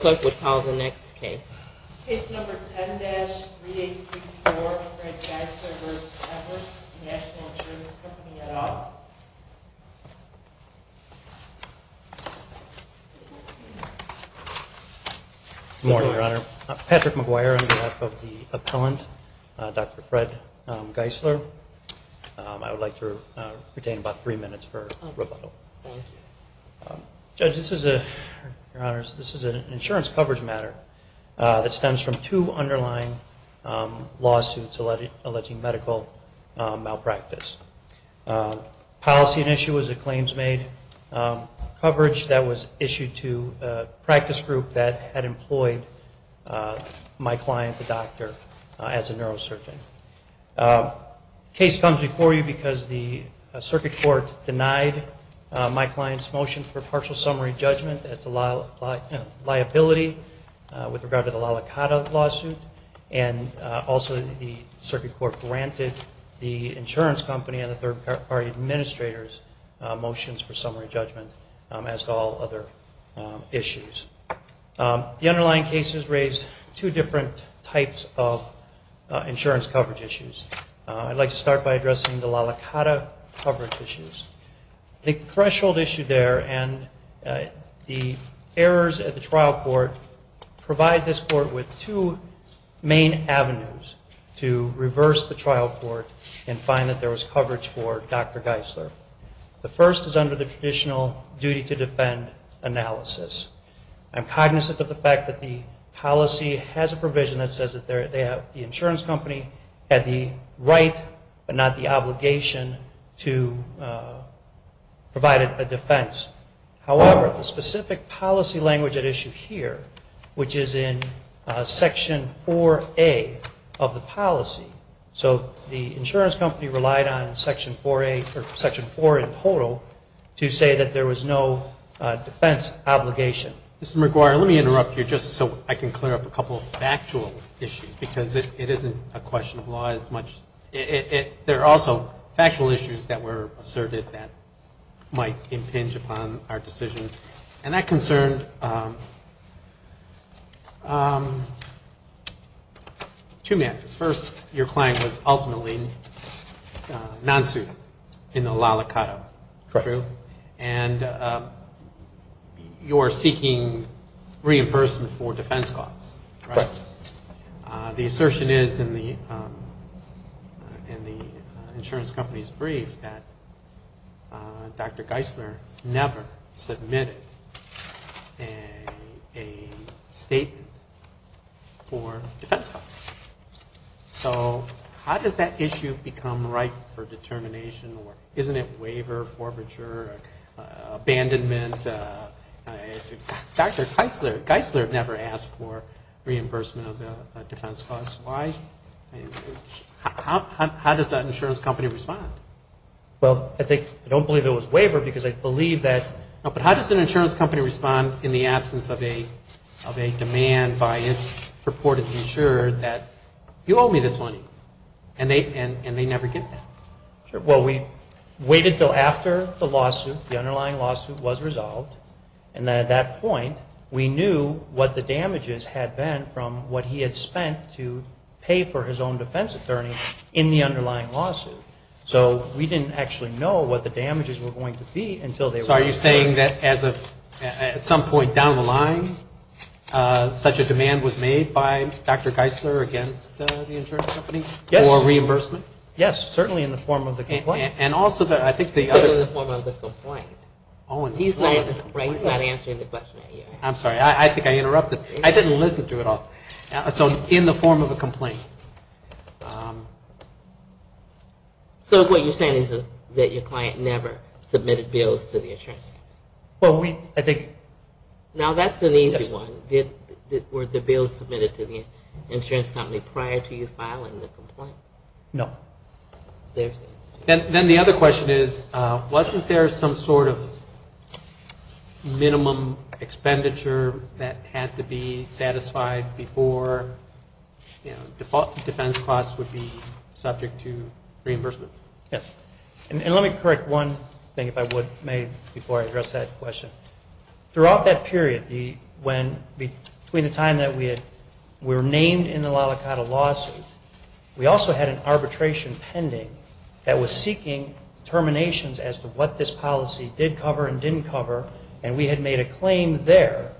Good morning, Your Honor. Patrick McGuire on behalf of the appellant, Dr. Fred Geisler. I would like to retain about three minutes for rebuttal. Judge, this is an insurance coverage matter that stems from two underlying lawsuits alleging medical malpractice. Policy at issue was that claims made coverage that was issued to a practice group that had employed my client, the doctor, as a neurosurgeon. The case comes before you because the circuit court denied my client's motion for partial summary judgment as to liability with regard to the La La Cata lawsuit, and also the circuit court granted the insurance company and the third party administrators' motions for summary judgment as to all other issues. The underlying cases raised two different types of insurance coverage issues. I'd like to start by addressing the La La Cata coverage issues. The threshold issue there and the errors at the trial court provide this court with two main avenues to reverse the trial court and find that there was coverage for Dr. Geisler. The first is under the traditional duty to defend analysis. I'm cognizant of the fact that the policy has a provision that says the insurance company had the right but not the obligation to provide a defense. However, the specific policy language at issue here, which is in Section 4A of the policy, so the insurance company relied on Section 4A or Section 4 in total to say that there was no defense obligation. Mr. McGuire, let me interrupt you just so I can clear up a couple of factual issues because it isn't a question of law as much. There are also factual issues that were asserted that might impinge upon our decision. And that concerned two matters. First, your client was ultimately non-suitable in the La La Cotto, true? Correct. And you are seeking reimbursement for defense costs, correct? Correct. The assertion is in the insurance company's brief that Dr. Geisler never submitted a statement for defense costs. So how does that issue become ripe for determination? Isn't it waiver, forfeiture, abandonment? Dr. Geisler never asked for reimbursement of defense costs. How does that insurance company respond? Well, I think, I don't believe it was waiver because I believe that, but how does an insurance company respond in the absence of a demand by its purported insurer that you owe me this money? And they never get that. Well, we waited until after the lawsuit, the underlying lawsuit was resolved. And then at that point, we knew what the damages had been from what he had spent to pay for his own defense attorney in the underlying lawsuit. So we didn't actually know what the damages were going to be until they were resolved. So are you saying that at some point down the line, such a demand was made by Dr. Geisler against the insurance company for reimbursement? Yes, certainly in the form of the complaint. And also I think the other. Certainly in the form of the complaint. He's not answering the question yet. I'm sorry. I think I interrupted. I didn't listen to it all. So in the form of a complaint. So what you're saying is that your client never submitted bills to the insurance company? Well, we, I think. Now that's an easy one. Were the bills submitted to the insurance company prior to you filing the complaint? No. Then the other question is, wasn't there some sort of minimum expenditure that had to be satisfied before, you know, defense costs would be subject to reimbursement? Yes. And let me correct one thing, if I would, may, before I address that question. Throughout that period, between the time that we were named in the La La Cotta lawsuit, we also had an arbitration pending that was seeking terminations as to what this policy did cover and didn't cover, and we had made a claim there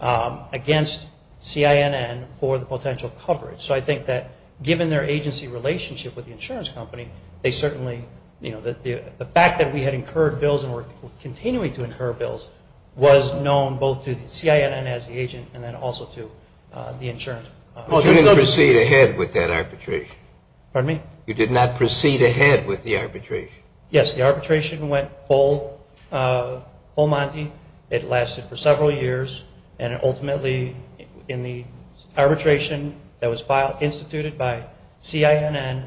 against CINN for the potential coverage. So I think that given their agency relationship with the insurance company, they certainly, you know, the fact that we had incurred bills and were continuing to incur bills was known both to CINN as the agent and then also to the insurance company. But you didn't proceed ahead with that arbitration? Pardon me? You did not proceed ahead with the arbitration? Yes. The arbitration went full Monty. It lasted for several years. And ultimately, in the arbitration that was instituted by CINN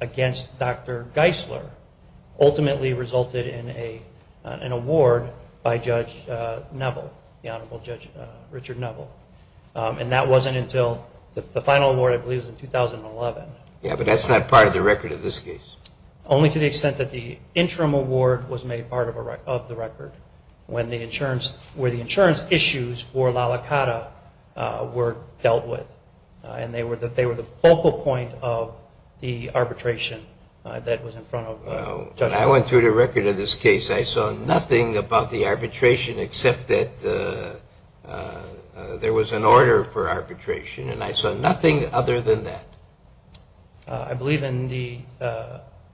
against Dr. Geisler, ultimately resulted in an award by Judge Neville, the Honorable Judge Richard Neville. And that wasn't until the final award, I believe, was in 2011. Yeah, but that's not part of the record of this case. Only to the extent that the interim award was made part of the record, where the insurance issues for La La Cata were dealt with. And they were the focal point of the arbitration that was in front of Judge Neville. I went through the record of this case. I saw nothing about the arbitration except that there was an order for arbitration, and I saw nothing other than that. I believe in the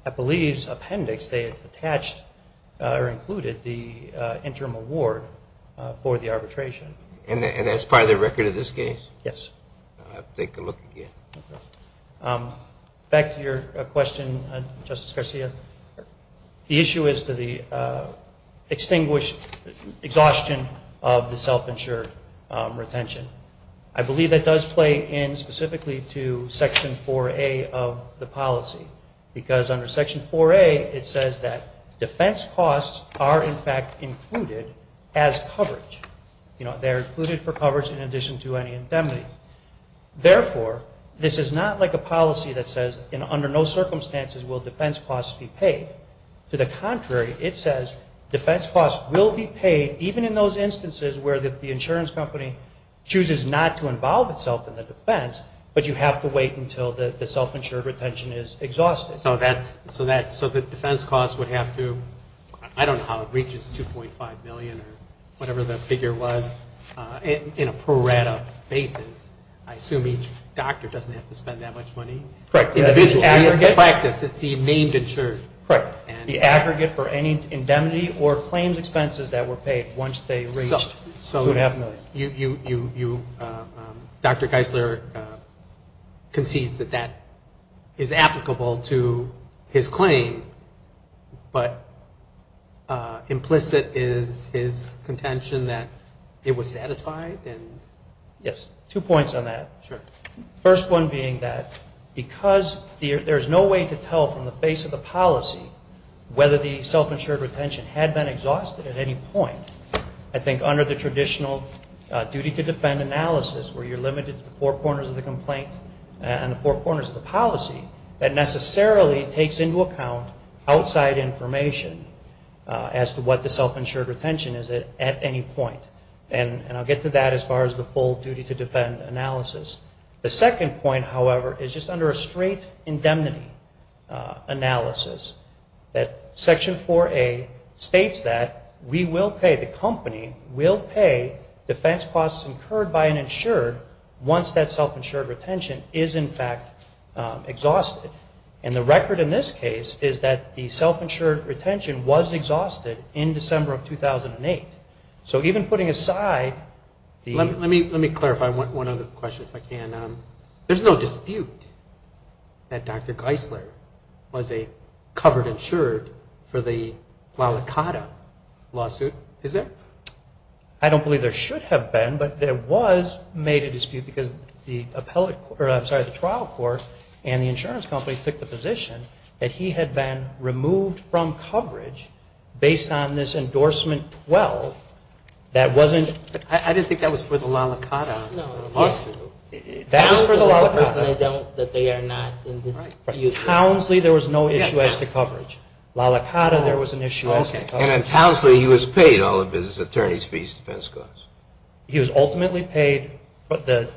Appellee's Appendix they attached or included the interim award for the arbitration. And that's part of the record of this case? Yes. I'll have to take a look again. Back to your question, Justice Garcia. The issue is the extinguished exhaustion of the self-insured retention. I believe that does play in specifically to Section 4A of the policy. Because under Section 4A it says that defense costs are, in fact, included as coverage. You know, they're included for coverage in addition to any indemnity. Therefore, this is not like a policy that says, under no circumstances will defense costs be paid. To the contrary, it says defense costs will be paid even in those instances where the insurance company chooses not to involve itself in the defense, but you have to wait until the self-insured retention is exhausted. So the defense costs would have to, I don't know how it reaches 2.5 million or whatever the figure was, in a pro rata basis. I assume each doctor doesn't have to spend that much money individually. Correct. It's the practice. It's the named insured. Correct. The aggregate for any indemnity or claims expenses that were paid once they reached 2.5 million. So you, Dr. Geisler, concedes that that is applicable to his claim, but implicit is his contention that it was satisfied? Yes. Two points on that. Sure. First one being that because there is no way to tell from the face of the policy whether the self-insured retention had been exhausted at any point, I think under the traditional duty to defend analysis, where you're limited to the four corners of the complaint and the four corners of the policy, that necessarily takes into account outside information as to what the self-insured retention is at any point. And I'll get to that as far as the full duty to defend analysis. The second point, however, is just under a straight indemnity analysis, that Section 4A states that we will pay, the company will pay, defense costs incurred by an insured once that self-insured retention is, in fact, exhausted. And the record in this case is that the self-insured retention was exhausted in December of 2008. So even putting aside the... Let me clarify one other question, if I can. There's no dispute that Dr. Geisler was a covered insured for the La La Cata lawsuit, is there? I don't believe there should have been, but there was made a dispute because the trial court and the insurance company took the position that he had been removed from That wasn't... I didn't think that was for the La La Cata lawsuit. That was for the La La Cata. I don't that they are not in dispute. Townsley, there was no issue as to coverage. La La Cata, there was an issue as to coverage. And at Townsley, he was paid all of his attorney's fees, defense costs. He was ultimately paid the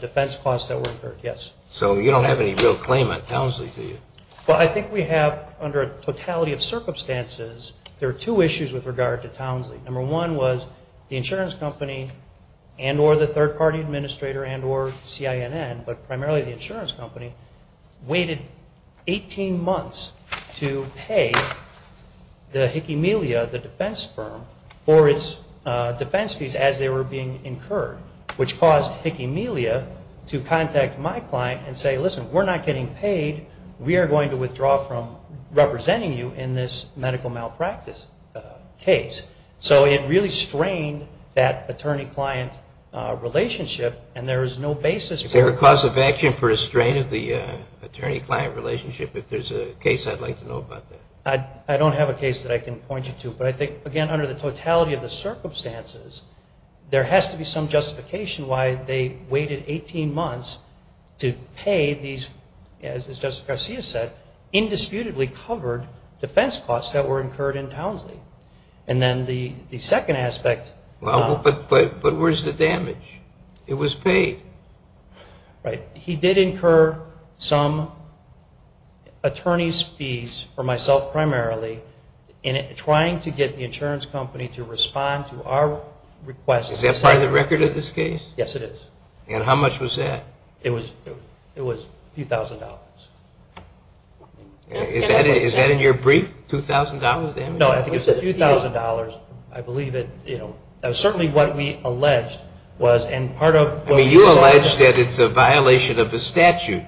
defense costs that were incurred, yes. So you don't have any real claim on Townsley, do you? Well, I think we have, under a totality of circumstances, there are two issues with regard to Townsley. Number one was the insurance company and or the third-party administrator and or CINN, but primarily the insurance company, waited 18 months to pay the Hickey Melia, the defense firm, for its defense fees as they were being incurred, which caused Hickey Melia to contact my client and say, listen, we're not getting paid. We are going to withdraw from representing you in this medical malpractice case. So it really strained that attorney-client relationship and there is no basis for it. Is there a cause of action for a strain of the attorney-client relationship? If there's a case, I'd like to know about that. I don't have a case that I can point you to. But I think, again, under the totality of the circumstances, there has to be some justification why they waited 18 months to pay these, as Justice Garcia said, indisputably covered defense costs that were incurred in Townsley. And then the second aspect. But where's the damage? It was paid. Right. He did incur some attorney's fees for myself primarily in trying to get the insurance company to respond to our requests. Is that part of the record of this case? Yes, it is. And how much was that? It was a few thousand dollars. Is that in your brief, $2,000 damage? No, I think it was $2,000. I believe it. That was certainly what we alleged was. I mean, you allege that it's a violation of the statute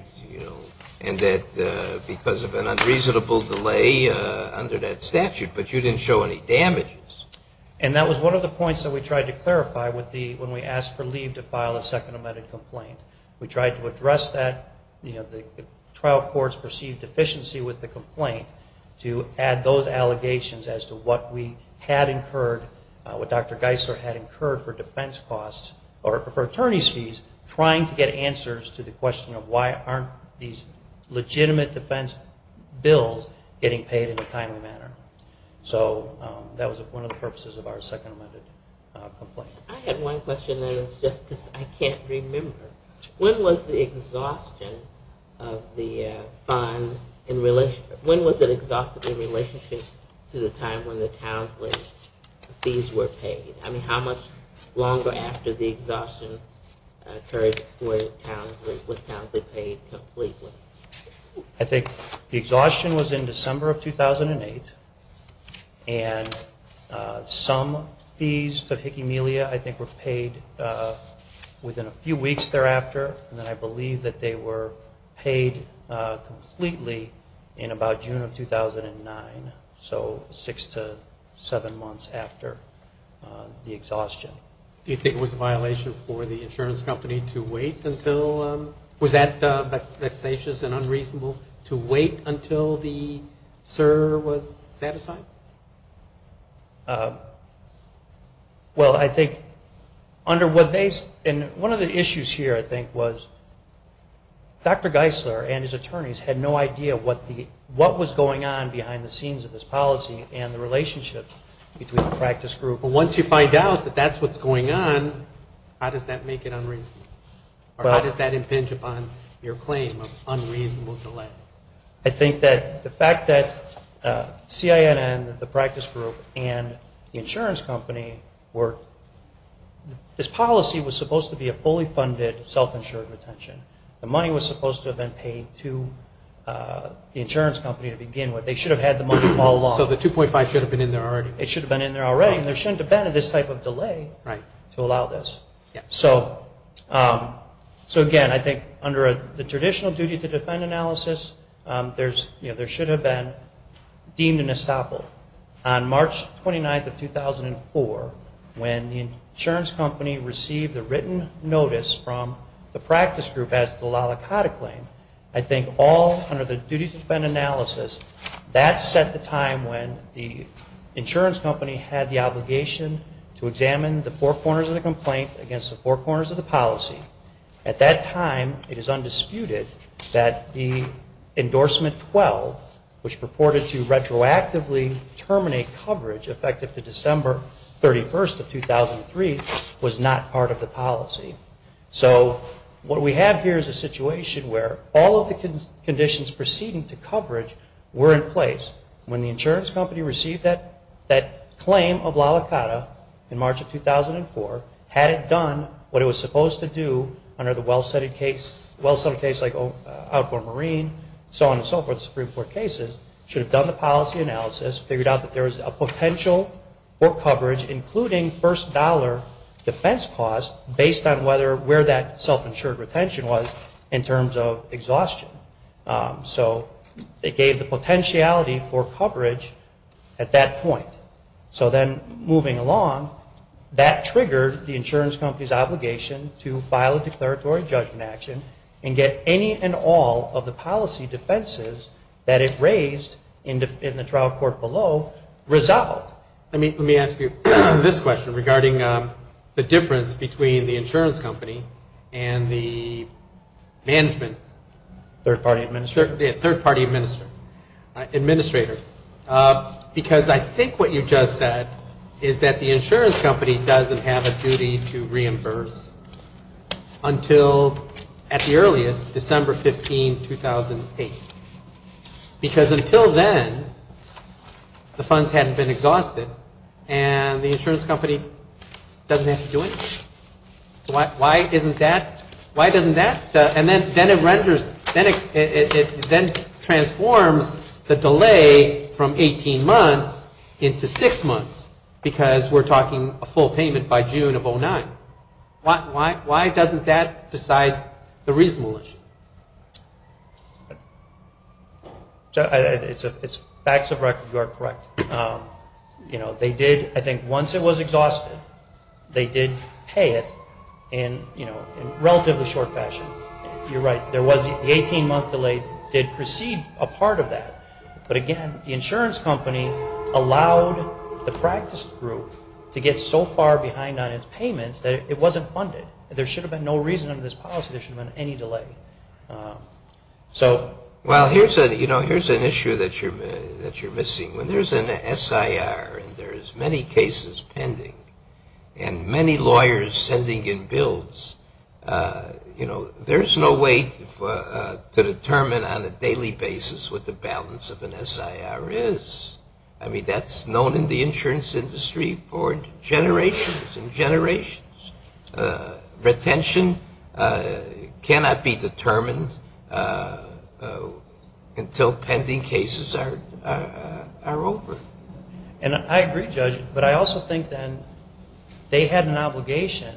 and that because of an unreasonable delay under that statute. But you didn't show any damages. And that was one of the points that we tried to clarify when we asked for leave to file a second amended complaint. We tried to address that trial court's perceived deficiency with the complaint to add those allegations as to what Dr. Geisler had incurred for defense costs or for attorney's fees trying to get answers to the question of why aren't these legitimate defense bills getting paid in a timely manner. So that was one of the purposes of our second amended complaint. I had one question, and it's just because I can't remember. When was the exhaustion of the fund in relation to the time when the Townsley fees were paid? I mean, how much longer after the exhaustion occurred was Townsley paid completely? I think the exhaustion was in December of 2008, and some fees to Hickey Melia I think were paid within a few weeks thereafter, and then I believe that they were paid completely in about June of 2009, so six to seven months after the exhaustion. Do you think it was a violation for the insurance company to wait until Was that vexatious and unreasonable to wait until the SIR was satisfied? Well, I think under what they – and one of the issues here I think was Dr. Geisler and his attorneys had no idea what was going on behind the scenes of this policy and the relationship between the practice group. But once you find out that that's what's going on, how does that make it unreasonable? Or how does that impinge upon your claim of unreasonable delay? I think that the fact that CINN, the practice group, and the insurance company were – this policy was supposed to be a fully funded self-insured retention. The money was supposed to have been paid to the insurance company to begin with. They should have had the money all along. So the 2.5 should have been in there already. It should have been in there already, and there shouldn't have been this type of delay to allow this. So, again, I think under the traditional duty to defend analysis, there should have been deemed an estoppel. On March 29th of 2004, when the insurance company received the written notice from the practice group as to allow the CADA claim, I think all under the duty to defend analysis, that set the time when the insurance company had the obligation to examine the four corners of the complaint against the four corners of the policy. At that time, it is undisputed that the endorsement 12, which purported to retroactively terminate coverage effective to December 31st of 2003, was not part of the policy. So what we have here is a situation where all of the conditions preceding to coverage were in place. When the insurance company received that claim of LALA CADA in March of 2004, had it done what it was supposed to do under the well-studied case, well-studied case like Outdoor Marine, so on and so forth, Supreme Court cases, should have done the policy analysis, figured out that there was a potential for coverage, including first dollar defense cost based on whether, where that self-insured retention was in terms of exhaustion. So it gave the potentiality for coverage at that point. So then moving along, that triggered the insurance company's obligation to file a declaratory judgment action and get any and all of the policy defenses that it raised in the trial court below resolved. Let me ask you this question regarding the difference between the insurance company and the management, third-party administrator. Because I think what you just said is that the insurance company doesn't have a duty to reimburse until, at the earliest, December 15, 2008. Because until then, the funds hadn't been exhausted and the insurance company doesn't have to do anything. So why isn't that, why doesn't that, and then it renders, then it transforms the delay from 18 months into 6 months, because we're talking a full payment by June of 2009. Why doesn't that decide the reasonableness? It's facts of record, you are correct. They did, I think, once it was exhausted, they did pay it in relatively short fashion. You're right, the 18-month delay did precede a part of that. But again, the insurance company allowed the practice group to get so far behind on its payments that it wasn't funded. There should have been no reason under this policy there should have been any delay. Well, here's an issue that you're missing. When there's an SIR and there's many cases pending and many lawyers sending in bills, there's no way to determine on a daily basis what the balance of an SIR is. I mean, that's known in the insurance industry for generations and generations. Retention cannot be determined until pending cases are over. And I agree, Judge, but I also think, then, they had an obligation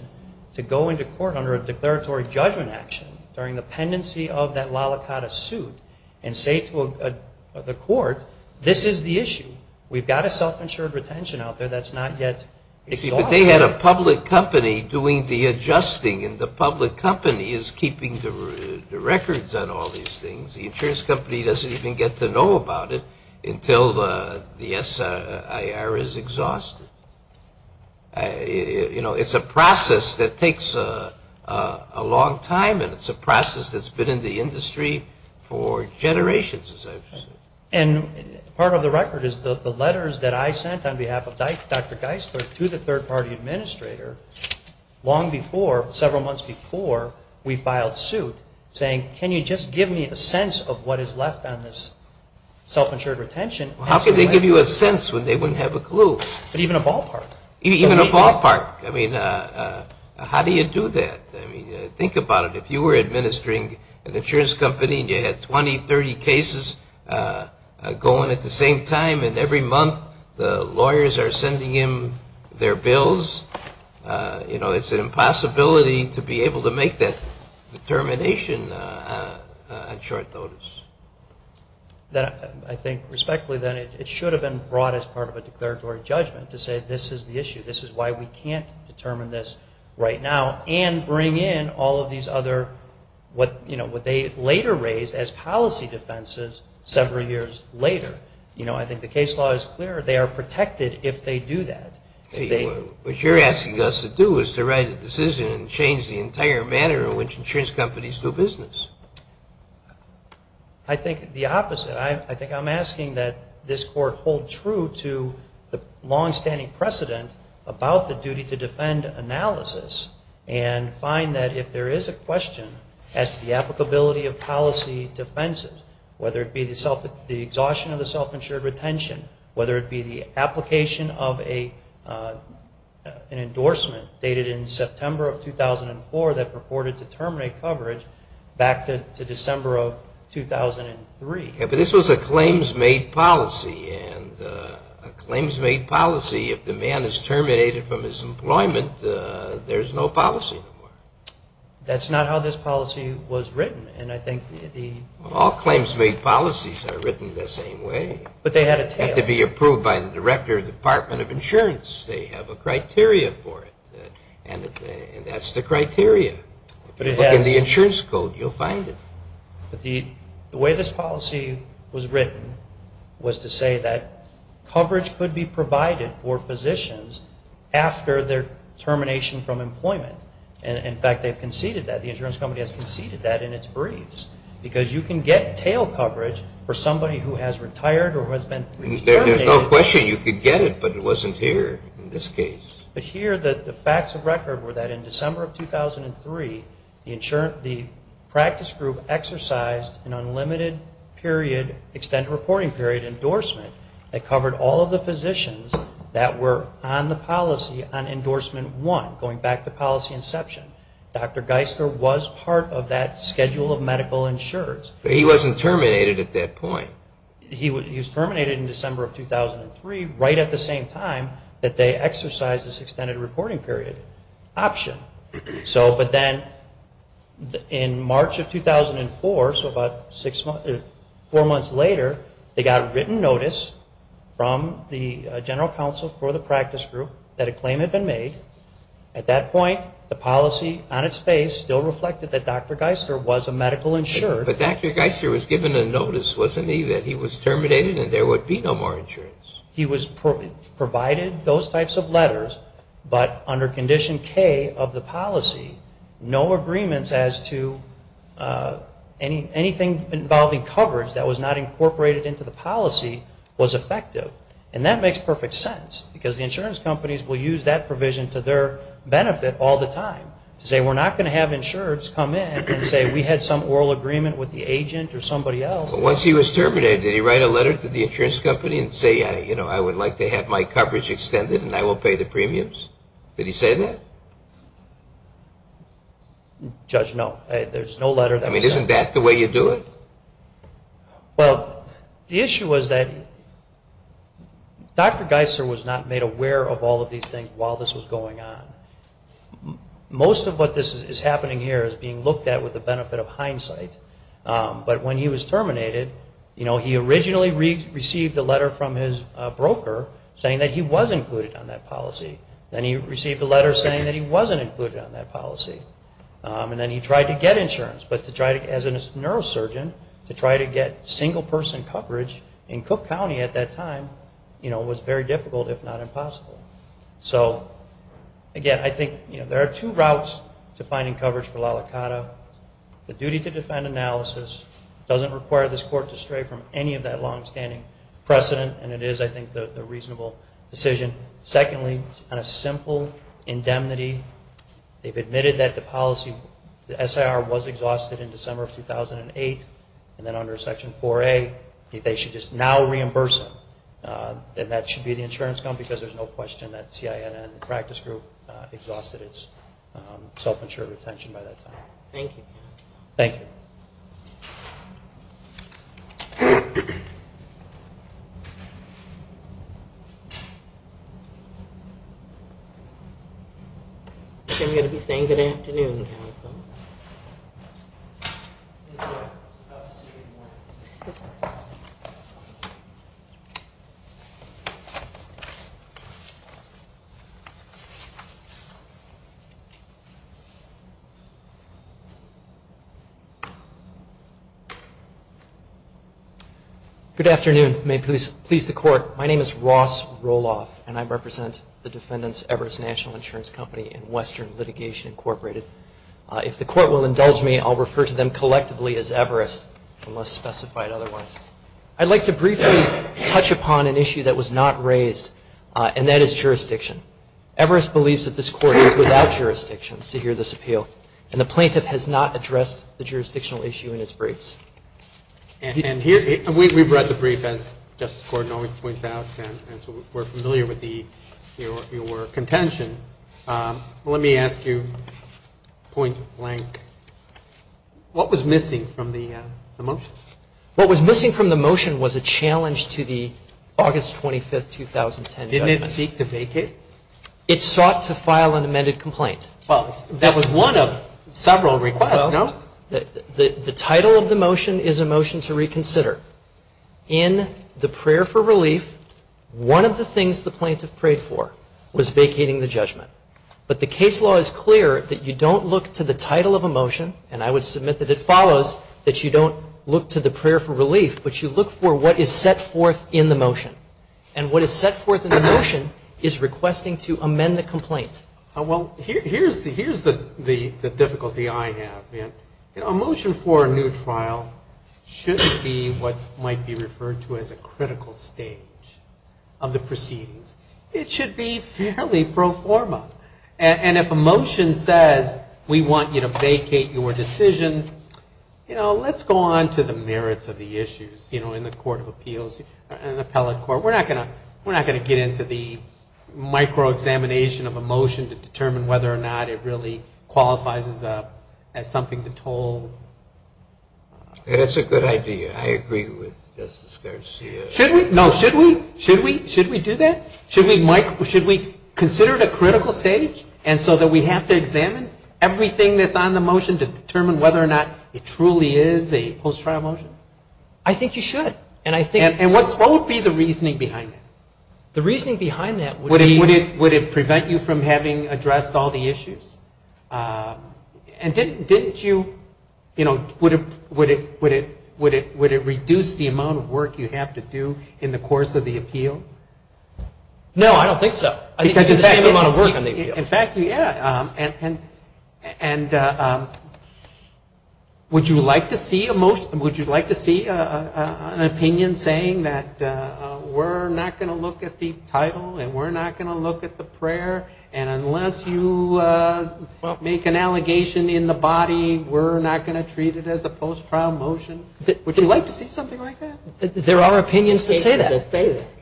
to go into court under a declaratory judgment action during the pendency of that la la cotta suit and say to the court, this is the issue. We've got a self-insured retention out there that's not yet exhausted. But they had a public company doing the adjusting, and the public company is keeping the records on all these things. The insurance company doesn't even get to know about it until the SIR is exhausted. You know, it's a process that takes a long time, and it's a process that's been in the industry for generations, as I've said. And part of the record is the letters that I sent on behalf of Dr. Geisler to the third-party administrator long before, several months before we filed suit, saying, can you just give me a sense of what is left on this self-insured retention? Well, how can they give you a sense when they wouldn't have a clue? But even a ballpark. Even a ballpark. I mean, how do you do that? I mean, think about it. If you were administering an insurance company and you had 20, 30 cases going at the same time, and every month the lawyers are sending in their bills, you know, it's an impossibility to be able to make that determination on short notice. I think respectfully, then, it should have been brought as part of a declaratory judgment to say this is the issue, this is why we can't determine this right now and bring in all of these other what they later raised as policy defenses several years later. You know, I think the case law is clear. They are protected if they do that. What you're asking us to do is to write a decision and change the entire manner in which insurance companies do business. I think the opposite. I think I'm asking that this Court hold true to the longstanding precedent about the duty to defend analysis and find that if there is a question as to the applicability of policy defenses, whether it be the exhaustion of the self-insured retention, whether it be the application of an endorsement dated in September of 2004 that purported to terminate coverage back to December of 2003. Yeah, but this was a claims-made policy, and a claims-made policy, if the man is terminated from his employment, there's no policy no more. That's not how this policy was written, and I think the... All claims-made policies are written the same way. But they had a tail. They have to be approved by the director of the Department of Insurance. They have a criteria for it, and that's the criteria. If you look in the insurance code, you'll find it. But the way this policy was written was to say that coverage could be provided for physicians after their termination from employment. And, in fact, they've conceded that. The insurance company has conceded that in its briefs, because you can get tail coverage for somebody who has retired or who has been terminated. There's no question you could get it, but it wasn't here in this case. But here, the facts of record were that in December of 2003, the practice group exercised an unlimited period, extended reporting period endorsement that covered all of the physicians that were on the policy on endorsement one, going back to policy inception. Dr. Geisler was part of that schedule of medical insureds. But he wasn't terminated at that point. He was terminated in December of 2003 right at the same time that they exercised this extended reporting period option. But then in March of 2004, so about four months later, they got a written notice from the general counsel for the practice group that a claim had been made. At that point, the policy on its face still reflected that Dr. Geisler was a medical insured. But Dr. Geisler was given a notice, wasn't he, that he was terminated and there would be no more insurance? He was provided those types of letters, but under Condition K of the policy, no agreements as to anything involving coverage that was not incorporated into the policy was effective. And that makes perfect sense because the insurance companies will use that provision to their benefit all the time, to say we're not going to have insureds come in and say we had some oral agreement with the agent or somebody else. Once he was terminated, did he write a letter to the insurance company and say, you know, I would like to have my coverage extended and I will pay the premiums? Did he say that? Judge, no. There's no letter that was sent. I mean, isn't that the way you do it? Well, the issue was that Dr. Geisler was not made aware of all of these things while this was going on. Most of what is happening here is being looked at with the benefit of hindsight, but when he was terminated, you know, he originally received a letter from his broker saying that he was included on that policy. Then he received a letter saying that he wasn't included on that policy. And then he tried to get insurance, but to try to, as a neurosurgeon, to try to get single-person coverage in Cook County at that time, you know, was very difficult, if not impossible. So, again, I think, you know, there are two routes to finding coverage for la licata. The duty to defend analysis doesn't require this court to stray from any of that long-standing precedent, and it is, I think, a reasonable decision. Secondly, on a simple indemnity, they've admitted that the policy, the SIR was exhausted in December of 2008, and then under Section 4A, they should just now reimburse him. And that should be the insurance company because there's no question that CIN and the practice group exhausted its self-insured retention by that time. Thank you. Thank you. Thank you. I'm going to be saying good afternoon, counsel. Good afternoon. May it please the Court. My name is Ross Roloff, and I represent the defendants, Everest National Insurance Company and Western Litigation Incorporated. If the Court will indulge me, I'll refer to them collectively as Everest, unless specified otherwise. I'd like to briefly touch upon an issue that was not raised, and that is jurisdiction. Everest believes that this Court is without jurisdiction to hear this appeal, and the plaintiff has not addressed the jurisdiction issue. And here, we've read the brief, as Justice Gordon always points out, and so we're familiar with your contention. Let me ask you, point blank, what was missing from the motion? What was missing from the motion was a challenge to the August 25, 2010 judgment. Didn't it seek to vacate? It sought to file an amended complaint. Well, that was one of several requests, no? The title of the motion is a motion to reconsider. In the prayer for relief, one of the things the plaintiff prayed for was vacating the judgment. But the case law is clear that you don't look to the title of a motion, and I would submit that it follows that you don't look to the prayer for relief, but you look for what is set forth in the motion. And what is set forth in the motion is requesting to amend the complaint. Well, here's the difficulty I have. A motion for a new trial shouldn't be what might be referred to as a critical stage of the proceedings. It should be fairly pro forma. And if a motion says we want you to vacate your decision, let's go on to the merits of the issues. In the Court of Appeals, an appellate court, we're not going to get into the micro-examination of a motion to determine whether or not it really qualifies as something to toll. That's a good idea. I agree with Justice Garcia. Should we? No, should we? Should we do that? Should we consider it a critical stage and so that we have to examine everything that's on the motion to determine whether or not it truly is a post-trial motion? I think you should. And what would be the reasoning behind that? The reasoning behind that would be Would it prevent you from having addressed all the issues? And didn't you, you know, would it reduce the amount of work you have to do in the course of the appeal? No, I don't think so. Because in fact In fact, yeah. And would you like to see a motion Would you like to see an opinion saying that we're not going to look at the title and we're not going to look at the prayer and unless you make an allegation in the body, we're not going to treat it as a post-trial motion? Would you like to see something like that? There are opinions that say that.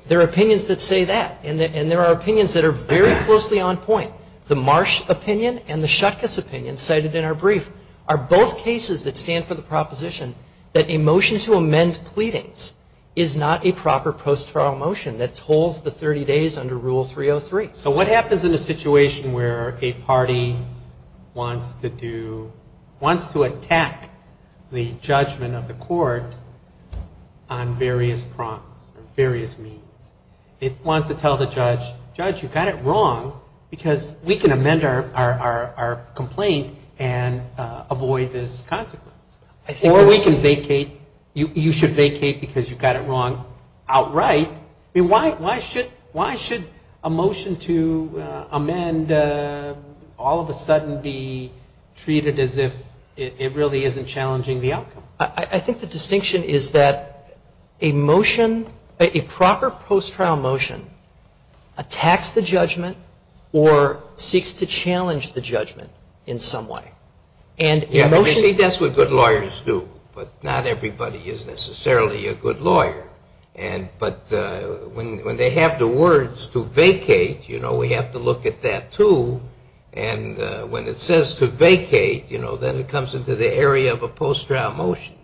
There are opinions that say that. And there are opinions that are very closely on point. The Marsh opinion and the Shutkus opinion cited in our brief are both cases that stand for the proposition that a motion to amend pleadings is not a proper post-trial motion that holds the 30 days under Rule 303. So what happens in a situation where a party wants to do wants to attack the judgment of the court on various prongs, on various means? It wants to tell the judge, Judge, you got it wrong because we can amend our complaint and avoid this consequence. Or we can vacate You should vacate because you got it wrong outright. Why should a motion to amend all of a sudden be treated as if it really isn't challenging the outcome? I think the distinction is that a motion, a proper post-trial motion attacks the judgment or seeks to challenge the judgment in some way. You see, that's what good lawyers do. But not everybody is necessarily a good lawyer. But when they have the words to vacate we have to look at that too. And when it says to vacate then it comes into the area of a post-trial motion.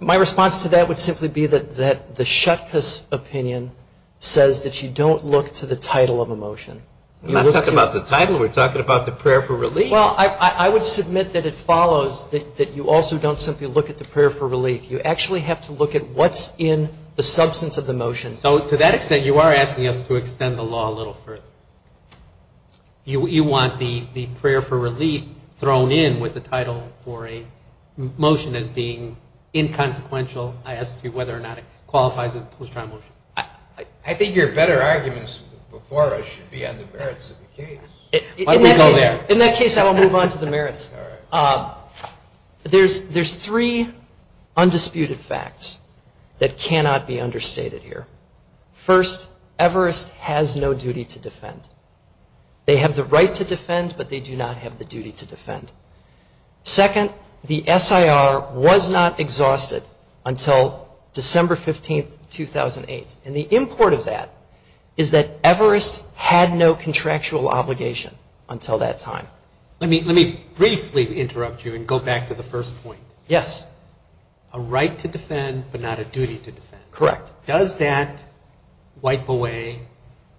My response to that would simply be that the Shutka's opinion says that you don't look to the title of a motion. I'm not talking about the title. We're talking about the prayer for relief. Well, I would submit that it follows that you also don't simply look at the prayer for relief. You actually have to look at what's in the substance of the motion. So to that extent you are asking us to extend the law a little further. You want the prayer for relief thrown in with the title for a motion as being inconsequential. So I ask you whether or not it qualifies as a post-trial motion. I think your better arguments before us should be on the merits of the case. Why don't we go there? In that case I will move on to the merits. There's three undisputed facts that cannot be understated here. First, Everest has no duty to defend. They have the right to defend but they do not have the duty to defend. Second, the SIR was not exhausted until December 15, 2008. And the import of that is that Everest had no contractual obligation until that time. Let me briefly interrupt you and go back to the first point. Yes. A right to defend but not a duty to defend. Correct. Does that wipe away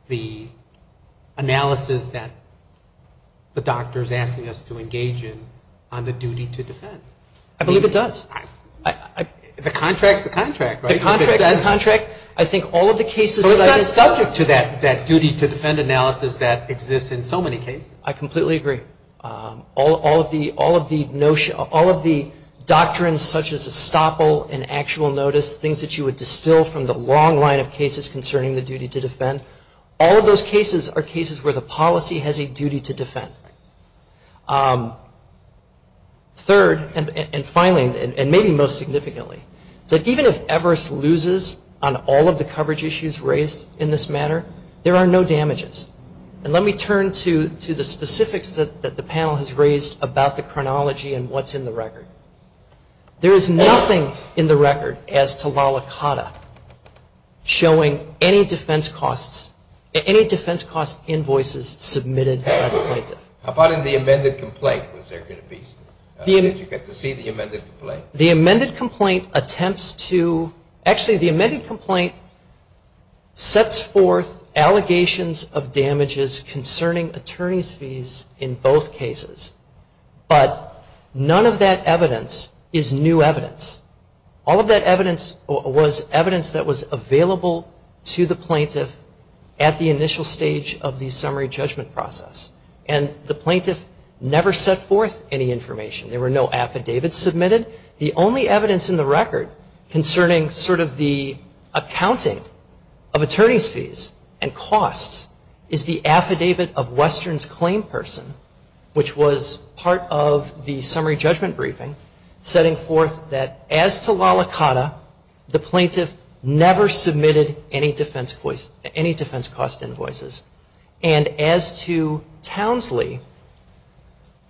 the analysis that the doctor is asking us to engage in on the duty to defend? I believe it does. The contract is the contract, right? The contract is the contract. I think all of the cases... But it's not subject to that duty to defend analysis that exists in so many cases. I completely agree. All of the doctrines such as estoppel and actual notice, things that you would distill from the long line of cases concerning the duty to defend, all of those cases are cases where the policy has a duty to defend. Third, and finally, and maybe most significantly, is that even if Everest loses on all of the coverage issues raised in this matter, there are no damages. And let me turn to the specifics that the panel has raised about the chronology and what's in the record. There is nothing in the record as to Lalicata showing any defense costs, invoices submitted by the plaintiff. How about in the amended complaint? Was there going to be... Did you get to see the amended complaint? The amended complaint attempts to... Actually, the amended complaint sets forth allegations of damages concerning attorney's fees in both cases. But none of that evidence is new evidence. All of that evidence was evidence that was available to the plaintiff at the initial stage of the summary judgment process. And the plaintiff never set forth any information. There were no affidavits submitted. The only evidence in the record concerning sort of the accounting of attorney's fees and costs is the affidavit of Western's claim person, which was part of the summary judgment briefing, setting forth that as to Lalicata, the plaintiff never submitted any defense cost invoices. And as to Townsley,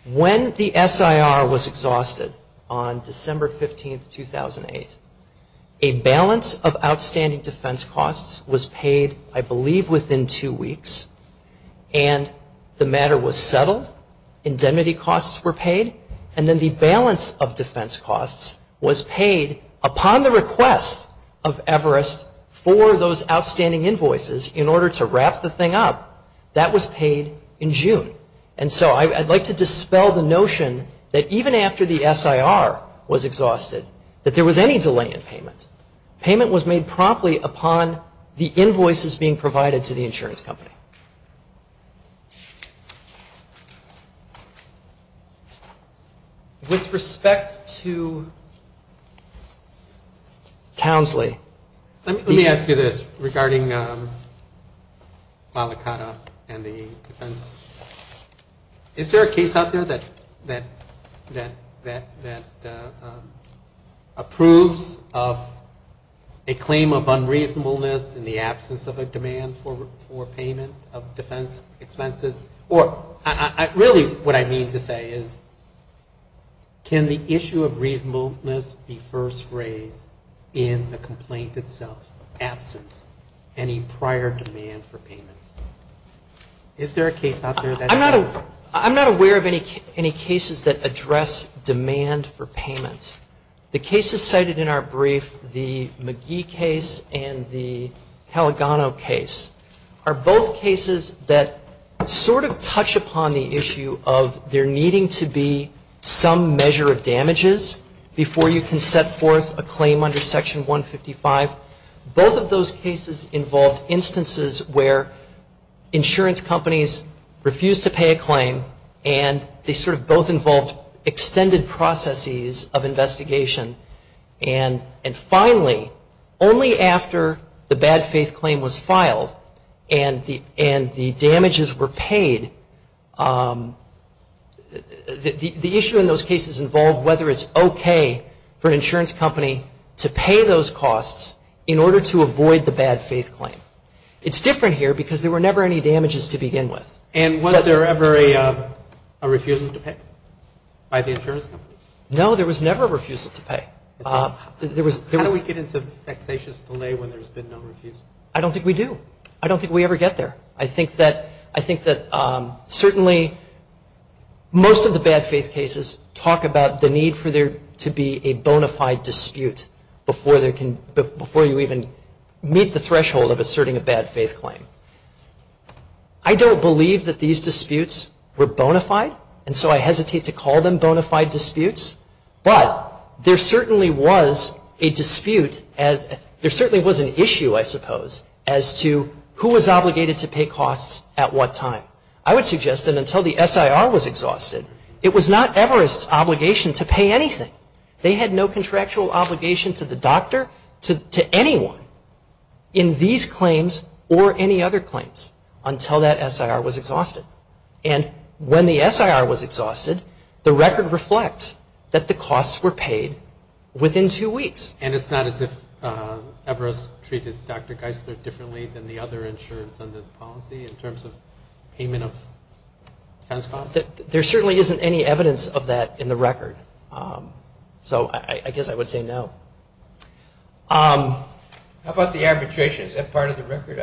when the SIR was exhausted on December 15, 2008, a balance of outstanding defense costs was paid, I believe, within two weeks. And the matter was settled. Indemnity costs were paid. And then the balance of defense costs was paid upon the request of Everest for those outstanding invoices in order to wrap the thing up. That was paid in June. And so I'd like to dispel the notion that even after the SIR was exhausted, that there was any delay in payment. Payment was made promptly upon the invoices being provided to the insurance company. With respect to Townsley. Let me ask you this regarding Lalicata and the defense. Is there a case out there that approves of a claim of unreasonableness in the absence of a demand for payment of defense expenses? Or really what I mean to say is can the issue of reasonableness be first raised in the complaint itself, absence, any prior demand for payment? Is there a case out there that... I'm not aware of any cases that address demand for payment. The cases cited in our brief, the McGee case and the Caligano case, are both cases that sort of touch upon the issue of there needing to be some measure of damages before you can set forth a claim under Section 155. Both of those cases involved instances where insurance companies refused to pay a claim and they sort of both involved extended processes of investigation. And finally, only after the bad faith claim was filed and the damages were paid the issue in those cases involved whether it's okay for an insurance company to pay those costs in order to avoid the bad faith claim. It's different here because there were never any damages to begin with. And was there ever a refusal to pay by the insurance company? No, there was never a refusal to pay. How do we get into vexatious delay when there's been no refusal? I don't think we do. I don't think we ever get there. I think that certainly most of the bad faith cases talk about the need for there to be a bona fide dispute before you even meet the threshold of asserting a bad faith claim. I don't believe that these disputes were bona fide and so I hesitate to call them bona fide disputes. But there certainly was a dispute, there certainly was an issue I suppose as to who was obligated to pay costs at what time. I would suggest that until the SIR was exhausted it was not Everest's obligation to pay anything. They had no contractual obligation to the doctor to anyone in these claims or any other claims until that SIR was exhausted. And when the SIR was exhausted the record reflects that the costs were paid within two weeks. And it's not as if Everest treated Dr. Geisler differently than the other insurance under the policy in terms of payment of defense costs? There certainly isn't any evidence of that in the record. So I guess I would say no. How about the arbitration? Is that part of the record?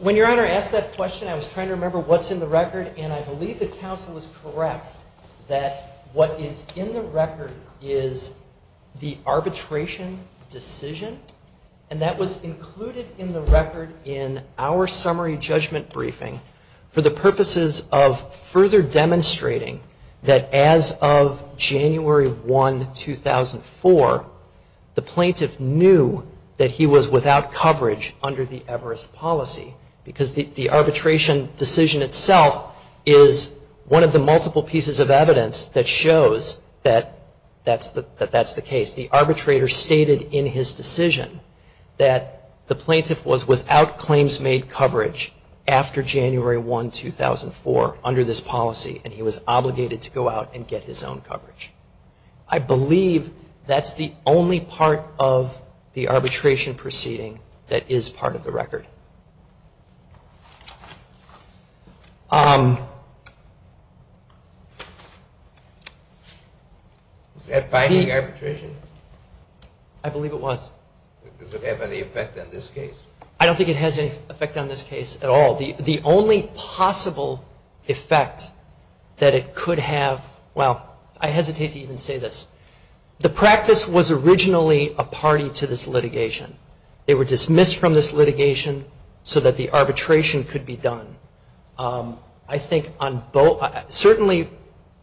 When Your Honor asked that question I was trying to remember what's in the record and I believe the counsel is correct that what is in the record is the arbitration decision and that was included in the record in our summary judgment briefing for the purposes of further demonstrating that as of January 1, 2004 the plaintiff knew that he was without coverage under the Everest policy because the arbitration decision itself is one of the multiple pieces of evidence that shows that that's the case. The arbitrator stated in his decision that the plaintiff was without claims made coverage after January 1, 2004 under this policy and he was obligated to go out and get his own coverage. I believe that's the only part of the arbitration proceeding that is part of the record. Is that binding arbitration? I believe it was. Does it have any effect on this case? I don't think it has any effect on this case at all. The only possible effect that it could have, well I hesitate to even say this, the practice was originally a party to this litigation. They were dismissed from this litigation so that the arbitration could be done. Certainly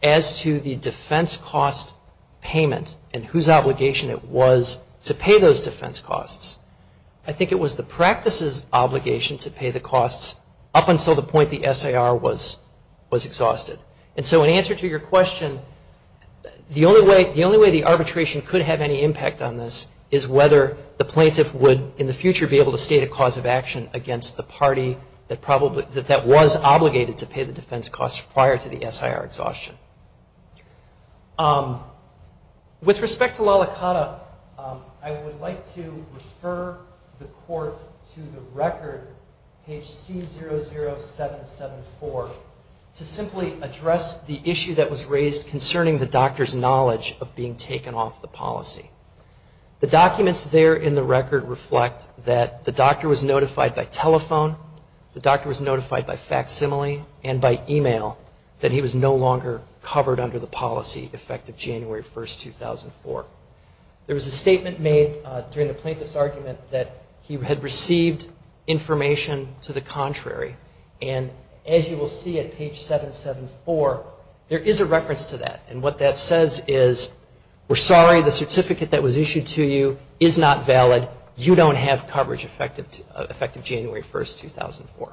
as to the defense cost payment and whose obligation it was to pay those defense costs I think it was the practice's obligation to pay the costs up until the point the S.A.R. was exhausted. And so in answer to your question the only way the arbitration could have any impact on this is whether the plaintiff would in the future be able to state a cause of action against the party that probably that was obligated to pay the defense costs prior to the S.I.R. exhaustion. With respect to Lalicata I would like to refer the Court to the record, page C00774 to simply address the issue that was raised concerning the doctor's knowledge of being taken off the policy. The documents there in the record reflect that the doctor was notified by telephone the doctor was notified by facsimile and by email that he was no longer covered under the policy effective January 1st, 2004. There was a statement made during the plaintiff's argument that he had received information to the contrary and as you will see at page 774 there is a reference to that and what that says is we're sorry the certificate that was issued to you is not valid you don't have coverage effective January 1st, 2004.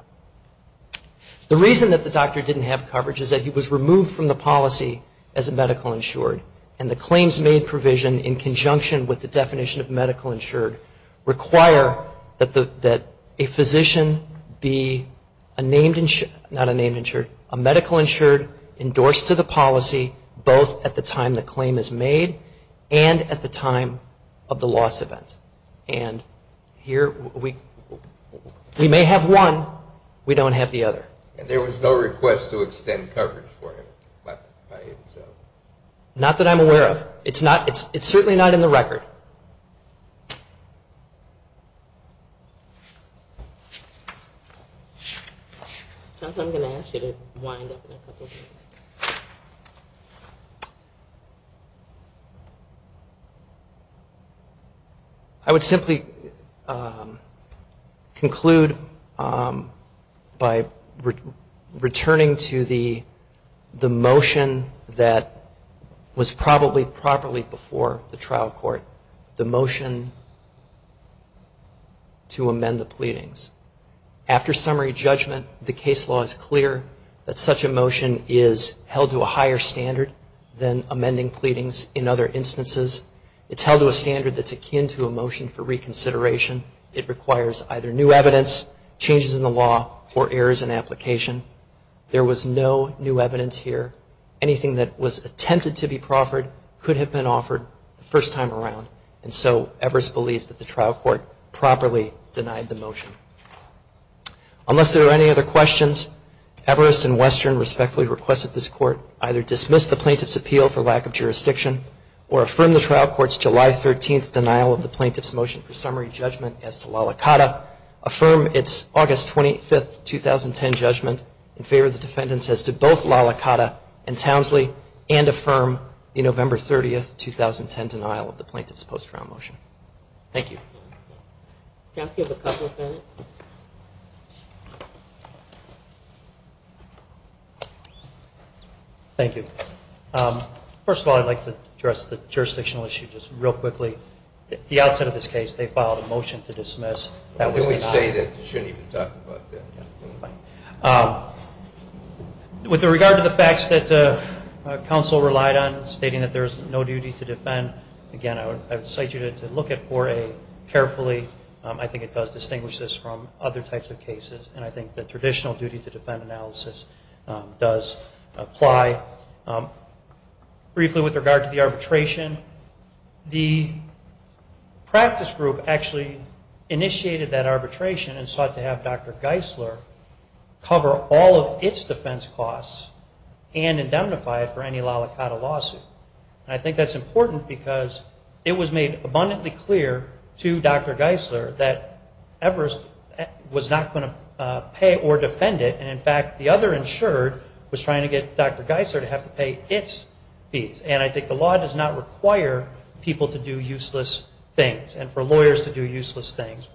The reason that the doctor didn't have coverage is that he was removed from the policy as a medical insured and the claims made provision in conjunction with the definition of medical insured require that a physician be a medical insured endorsed to the policy both at the time the claim is made and at the time of the loss event and here we may have one we don't have the other. There was no request to extend coverage for him. Not that I'm aware of. It's certainly not in the record. I'm going to ask you to wind up in a couple of minutes Thank you. I would simply conclude by returning to the motion that was probably properly before the trial court. The motion to amend the pleadings. After summary judgment the case law is clear that such a motion is held to a higher standard than amending pleadings in other instances. It's held to a standard that's akin to a motion for reconsideration. It requires either new evidence changes in the law or errors in application. There was no new evidence here. Anything that was attempted to be proffered could have been offered the first time around and so Everest believes that the trial court properly denied the motion. Unless there are any other questions Everest and Western respectfully request that this court either dismiss the plaintiff's appeal for lack of jurisdiction or affirm the trial court's July 13th denial of the plaintiff's motion for summary judgment as to La La Cata affirm its August 25th, 2010 judgment in favor of the defendants as to both La La Cata and Townsley and affirm the November 30th, 2010 denial of the plaintiff's post-trial motion. Thank you. Thank you. First of all I'd like to address the jurisdictional issue just real quickly. At the outset of this case they filed a motion to dismiss. That was denied. With regard to the facts that counsel relied on stating that there is no duty to defend again I would cite you to look at 4A carefully. I think it does distinguish this from other types of cases and I think the traditional duty to defend analysis does apply. Briefly with regard to the arbitration the practice group actually initiated that arbitration and sought to have Dr. Geisler cover all of its defense costs and indemnify it for any La La Cata lawsuit. I think that's important because it was made abundantly clear to Dr. Geisler that Everest was not going to pay or defend it and in fact the other insured was trying to get Dr. Geisler to have to pay its fees and I think the law does not require people to do useless things and for lawyers to do useless things.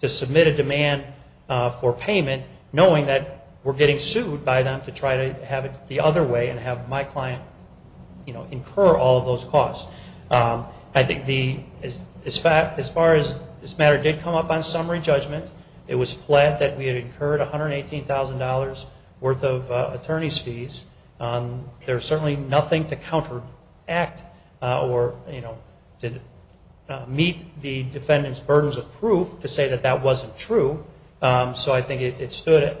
To submit a demand for payment knowing that we're getting sued by them to try to have it the other way and have my client incur all of those costs. I think as far as this matter did come up on summary judgment it was flat that we had incurred $118,000 worth of attorney's fees. There's certainly nothing to counteract or to meet the defendant's burdens of proof to say that that wasn't true. So I think it stood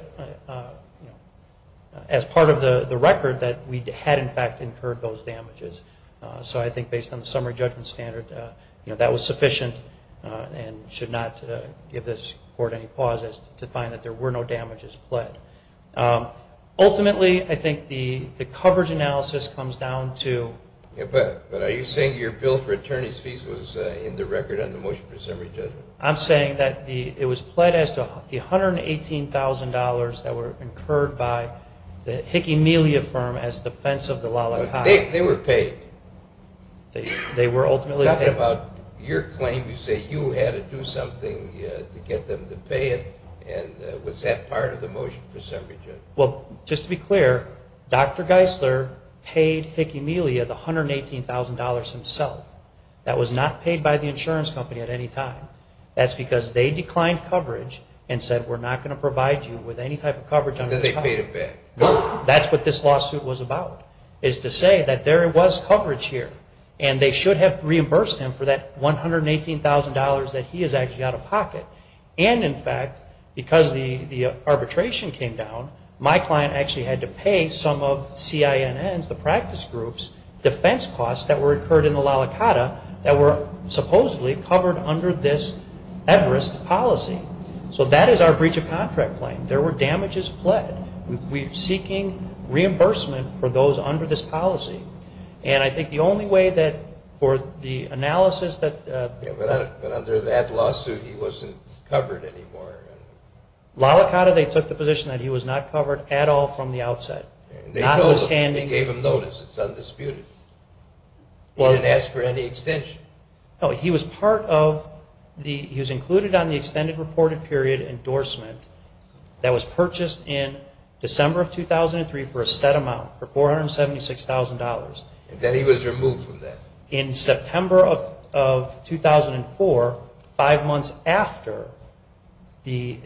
as part of the record that we had in fact incurred those damages. So I think based on the summary judgment standard that was sufficient and should not give this court any pauses to find that there were no damages pled. Ultimately I think the coverage analysis comes down to... But are you saying your bill for attorney's fees was in the record on the motion for summary judgment? I'm saying that it was pled as to the $118,000 that were incurred by the Hick Emelia firm as defense of the lollipop. They were paid. They were ultimately paid. Talking about your claim you say you had to do something to get them to pay it and was that part of the motion for summary judgment? Well, just to be clear, Dr. Geisler paid Hick Emelia the $118,000 himself. That was not paid by the insurance company at any time. That's because they declined coverage and said we're not going to provide you with any type of coverage. That's what this lawsuit was about is to say that there was coverage here and they should have reimbursed him for that $118,000 that he is actually out of pocket. And in fact because the arbitration came down my client actually had to pay some of CINN's defense costs that were incurred in the lollipop that were supposedly covered under this policy. So that is our breach of contract claim. There were damages pled. We're seeking reimbursement for those under this policy. And I think the only way that for the analysis that... But under that lawsuit he wasn't covered anymore? Lollipop they took the position that he was not covered at all from the outset. They gave him notice. It's undisputed. He didn't ask for any extension. He was included on the extended reported period endorsement that was purchased in December of 2003 for a set amount for $476,000. And then he was removed from that? In September of 2004 five months after the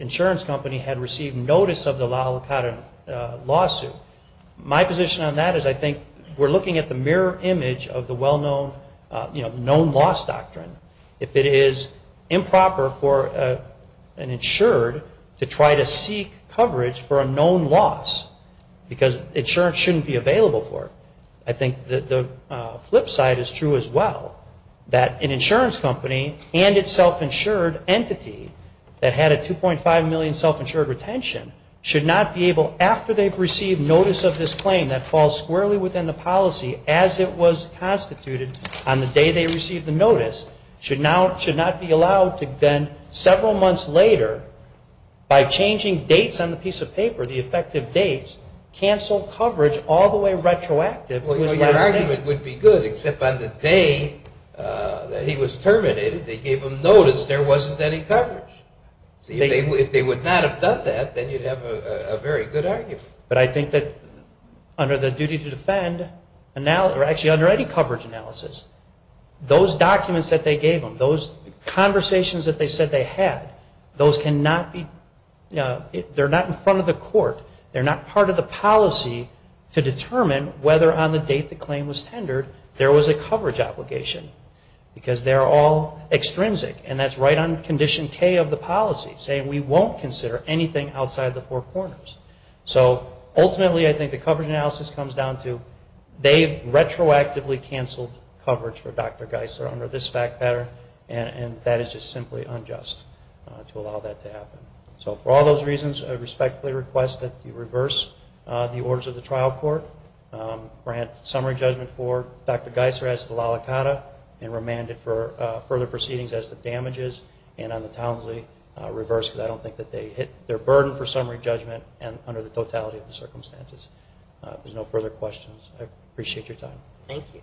lawsuit. My position on that is I think we're looking at the mirror image of the well-known known loss doctrine. If it is improper for an insured to try to seek coverage for a known loss because insurance shouldn't be available for it. I think the flip side is true as well that an insurance company and its self-insured entity that had a 2.5 million self-insured retention should not be able after they've received notice of this claim that falls squarely within the policy as it was constituted on the day they received the notice should not be allowed to then several months later by changing dates on the piece of paper, the effective dates cancel coverage all the way retroactive to his last name. Your argument would be good except on the day that he was terminated they gave him notice there wasn't any coverage. If they would not have done that then you'd have a very good argument. But I think that under the duty to defend actually under any coverage analysis those documents that they gave them, those conversations that they said they had, those cannot be they're not in front of the court, they're not part of the policy to determine whether on the date the claim was tendered there was a coverage obligation because they're all extrinsic and that's right on condition K of the policy saying we won't consider anything outside the four corners. So ultimately I think the coverage analysis comes down to they've retroactively canceled coverage for Dr. Geisler under this fact pattern and that is just simply unjust to allow that to happen. So for all those reasons I respectfully request that you reverse the orders of the trial court, grant summary judgment for Dr. Geisler as to the la licata and remand it for further proceedings as to damages and on the Townsley reverse because I don't think that they hit their burden for summary judgment under the totality of the circumstances. If there's no further questions I appreciate your time. Thank you.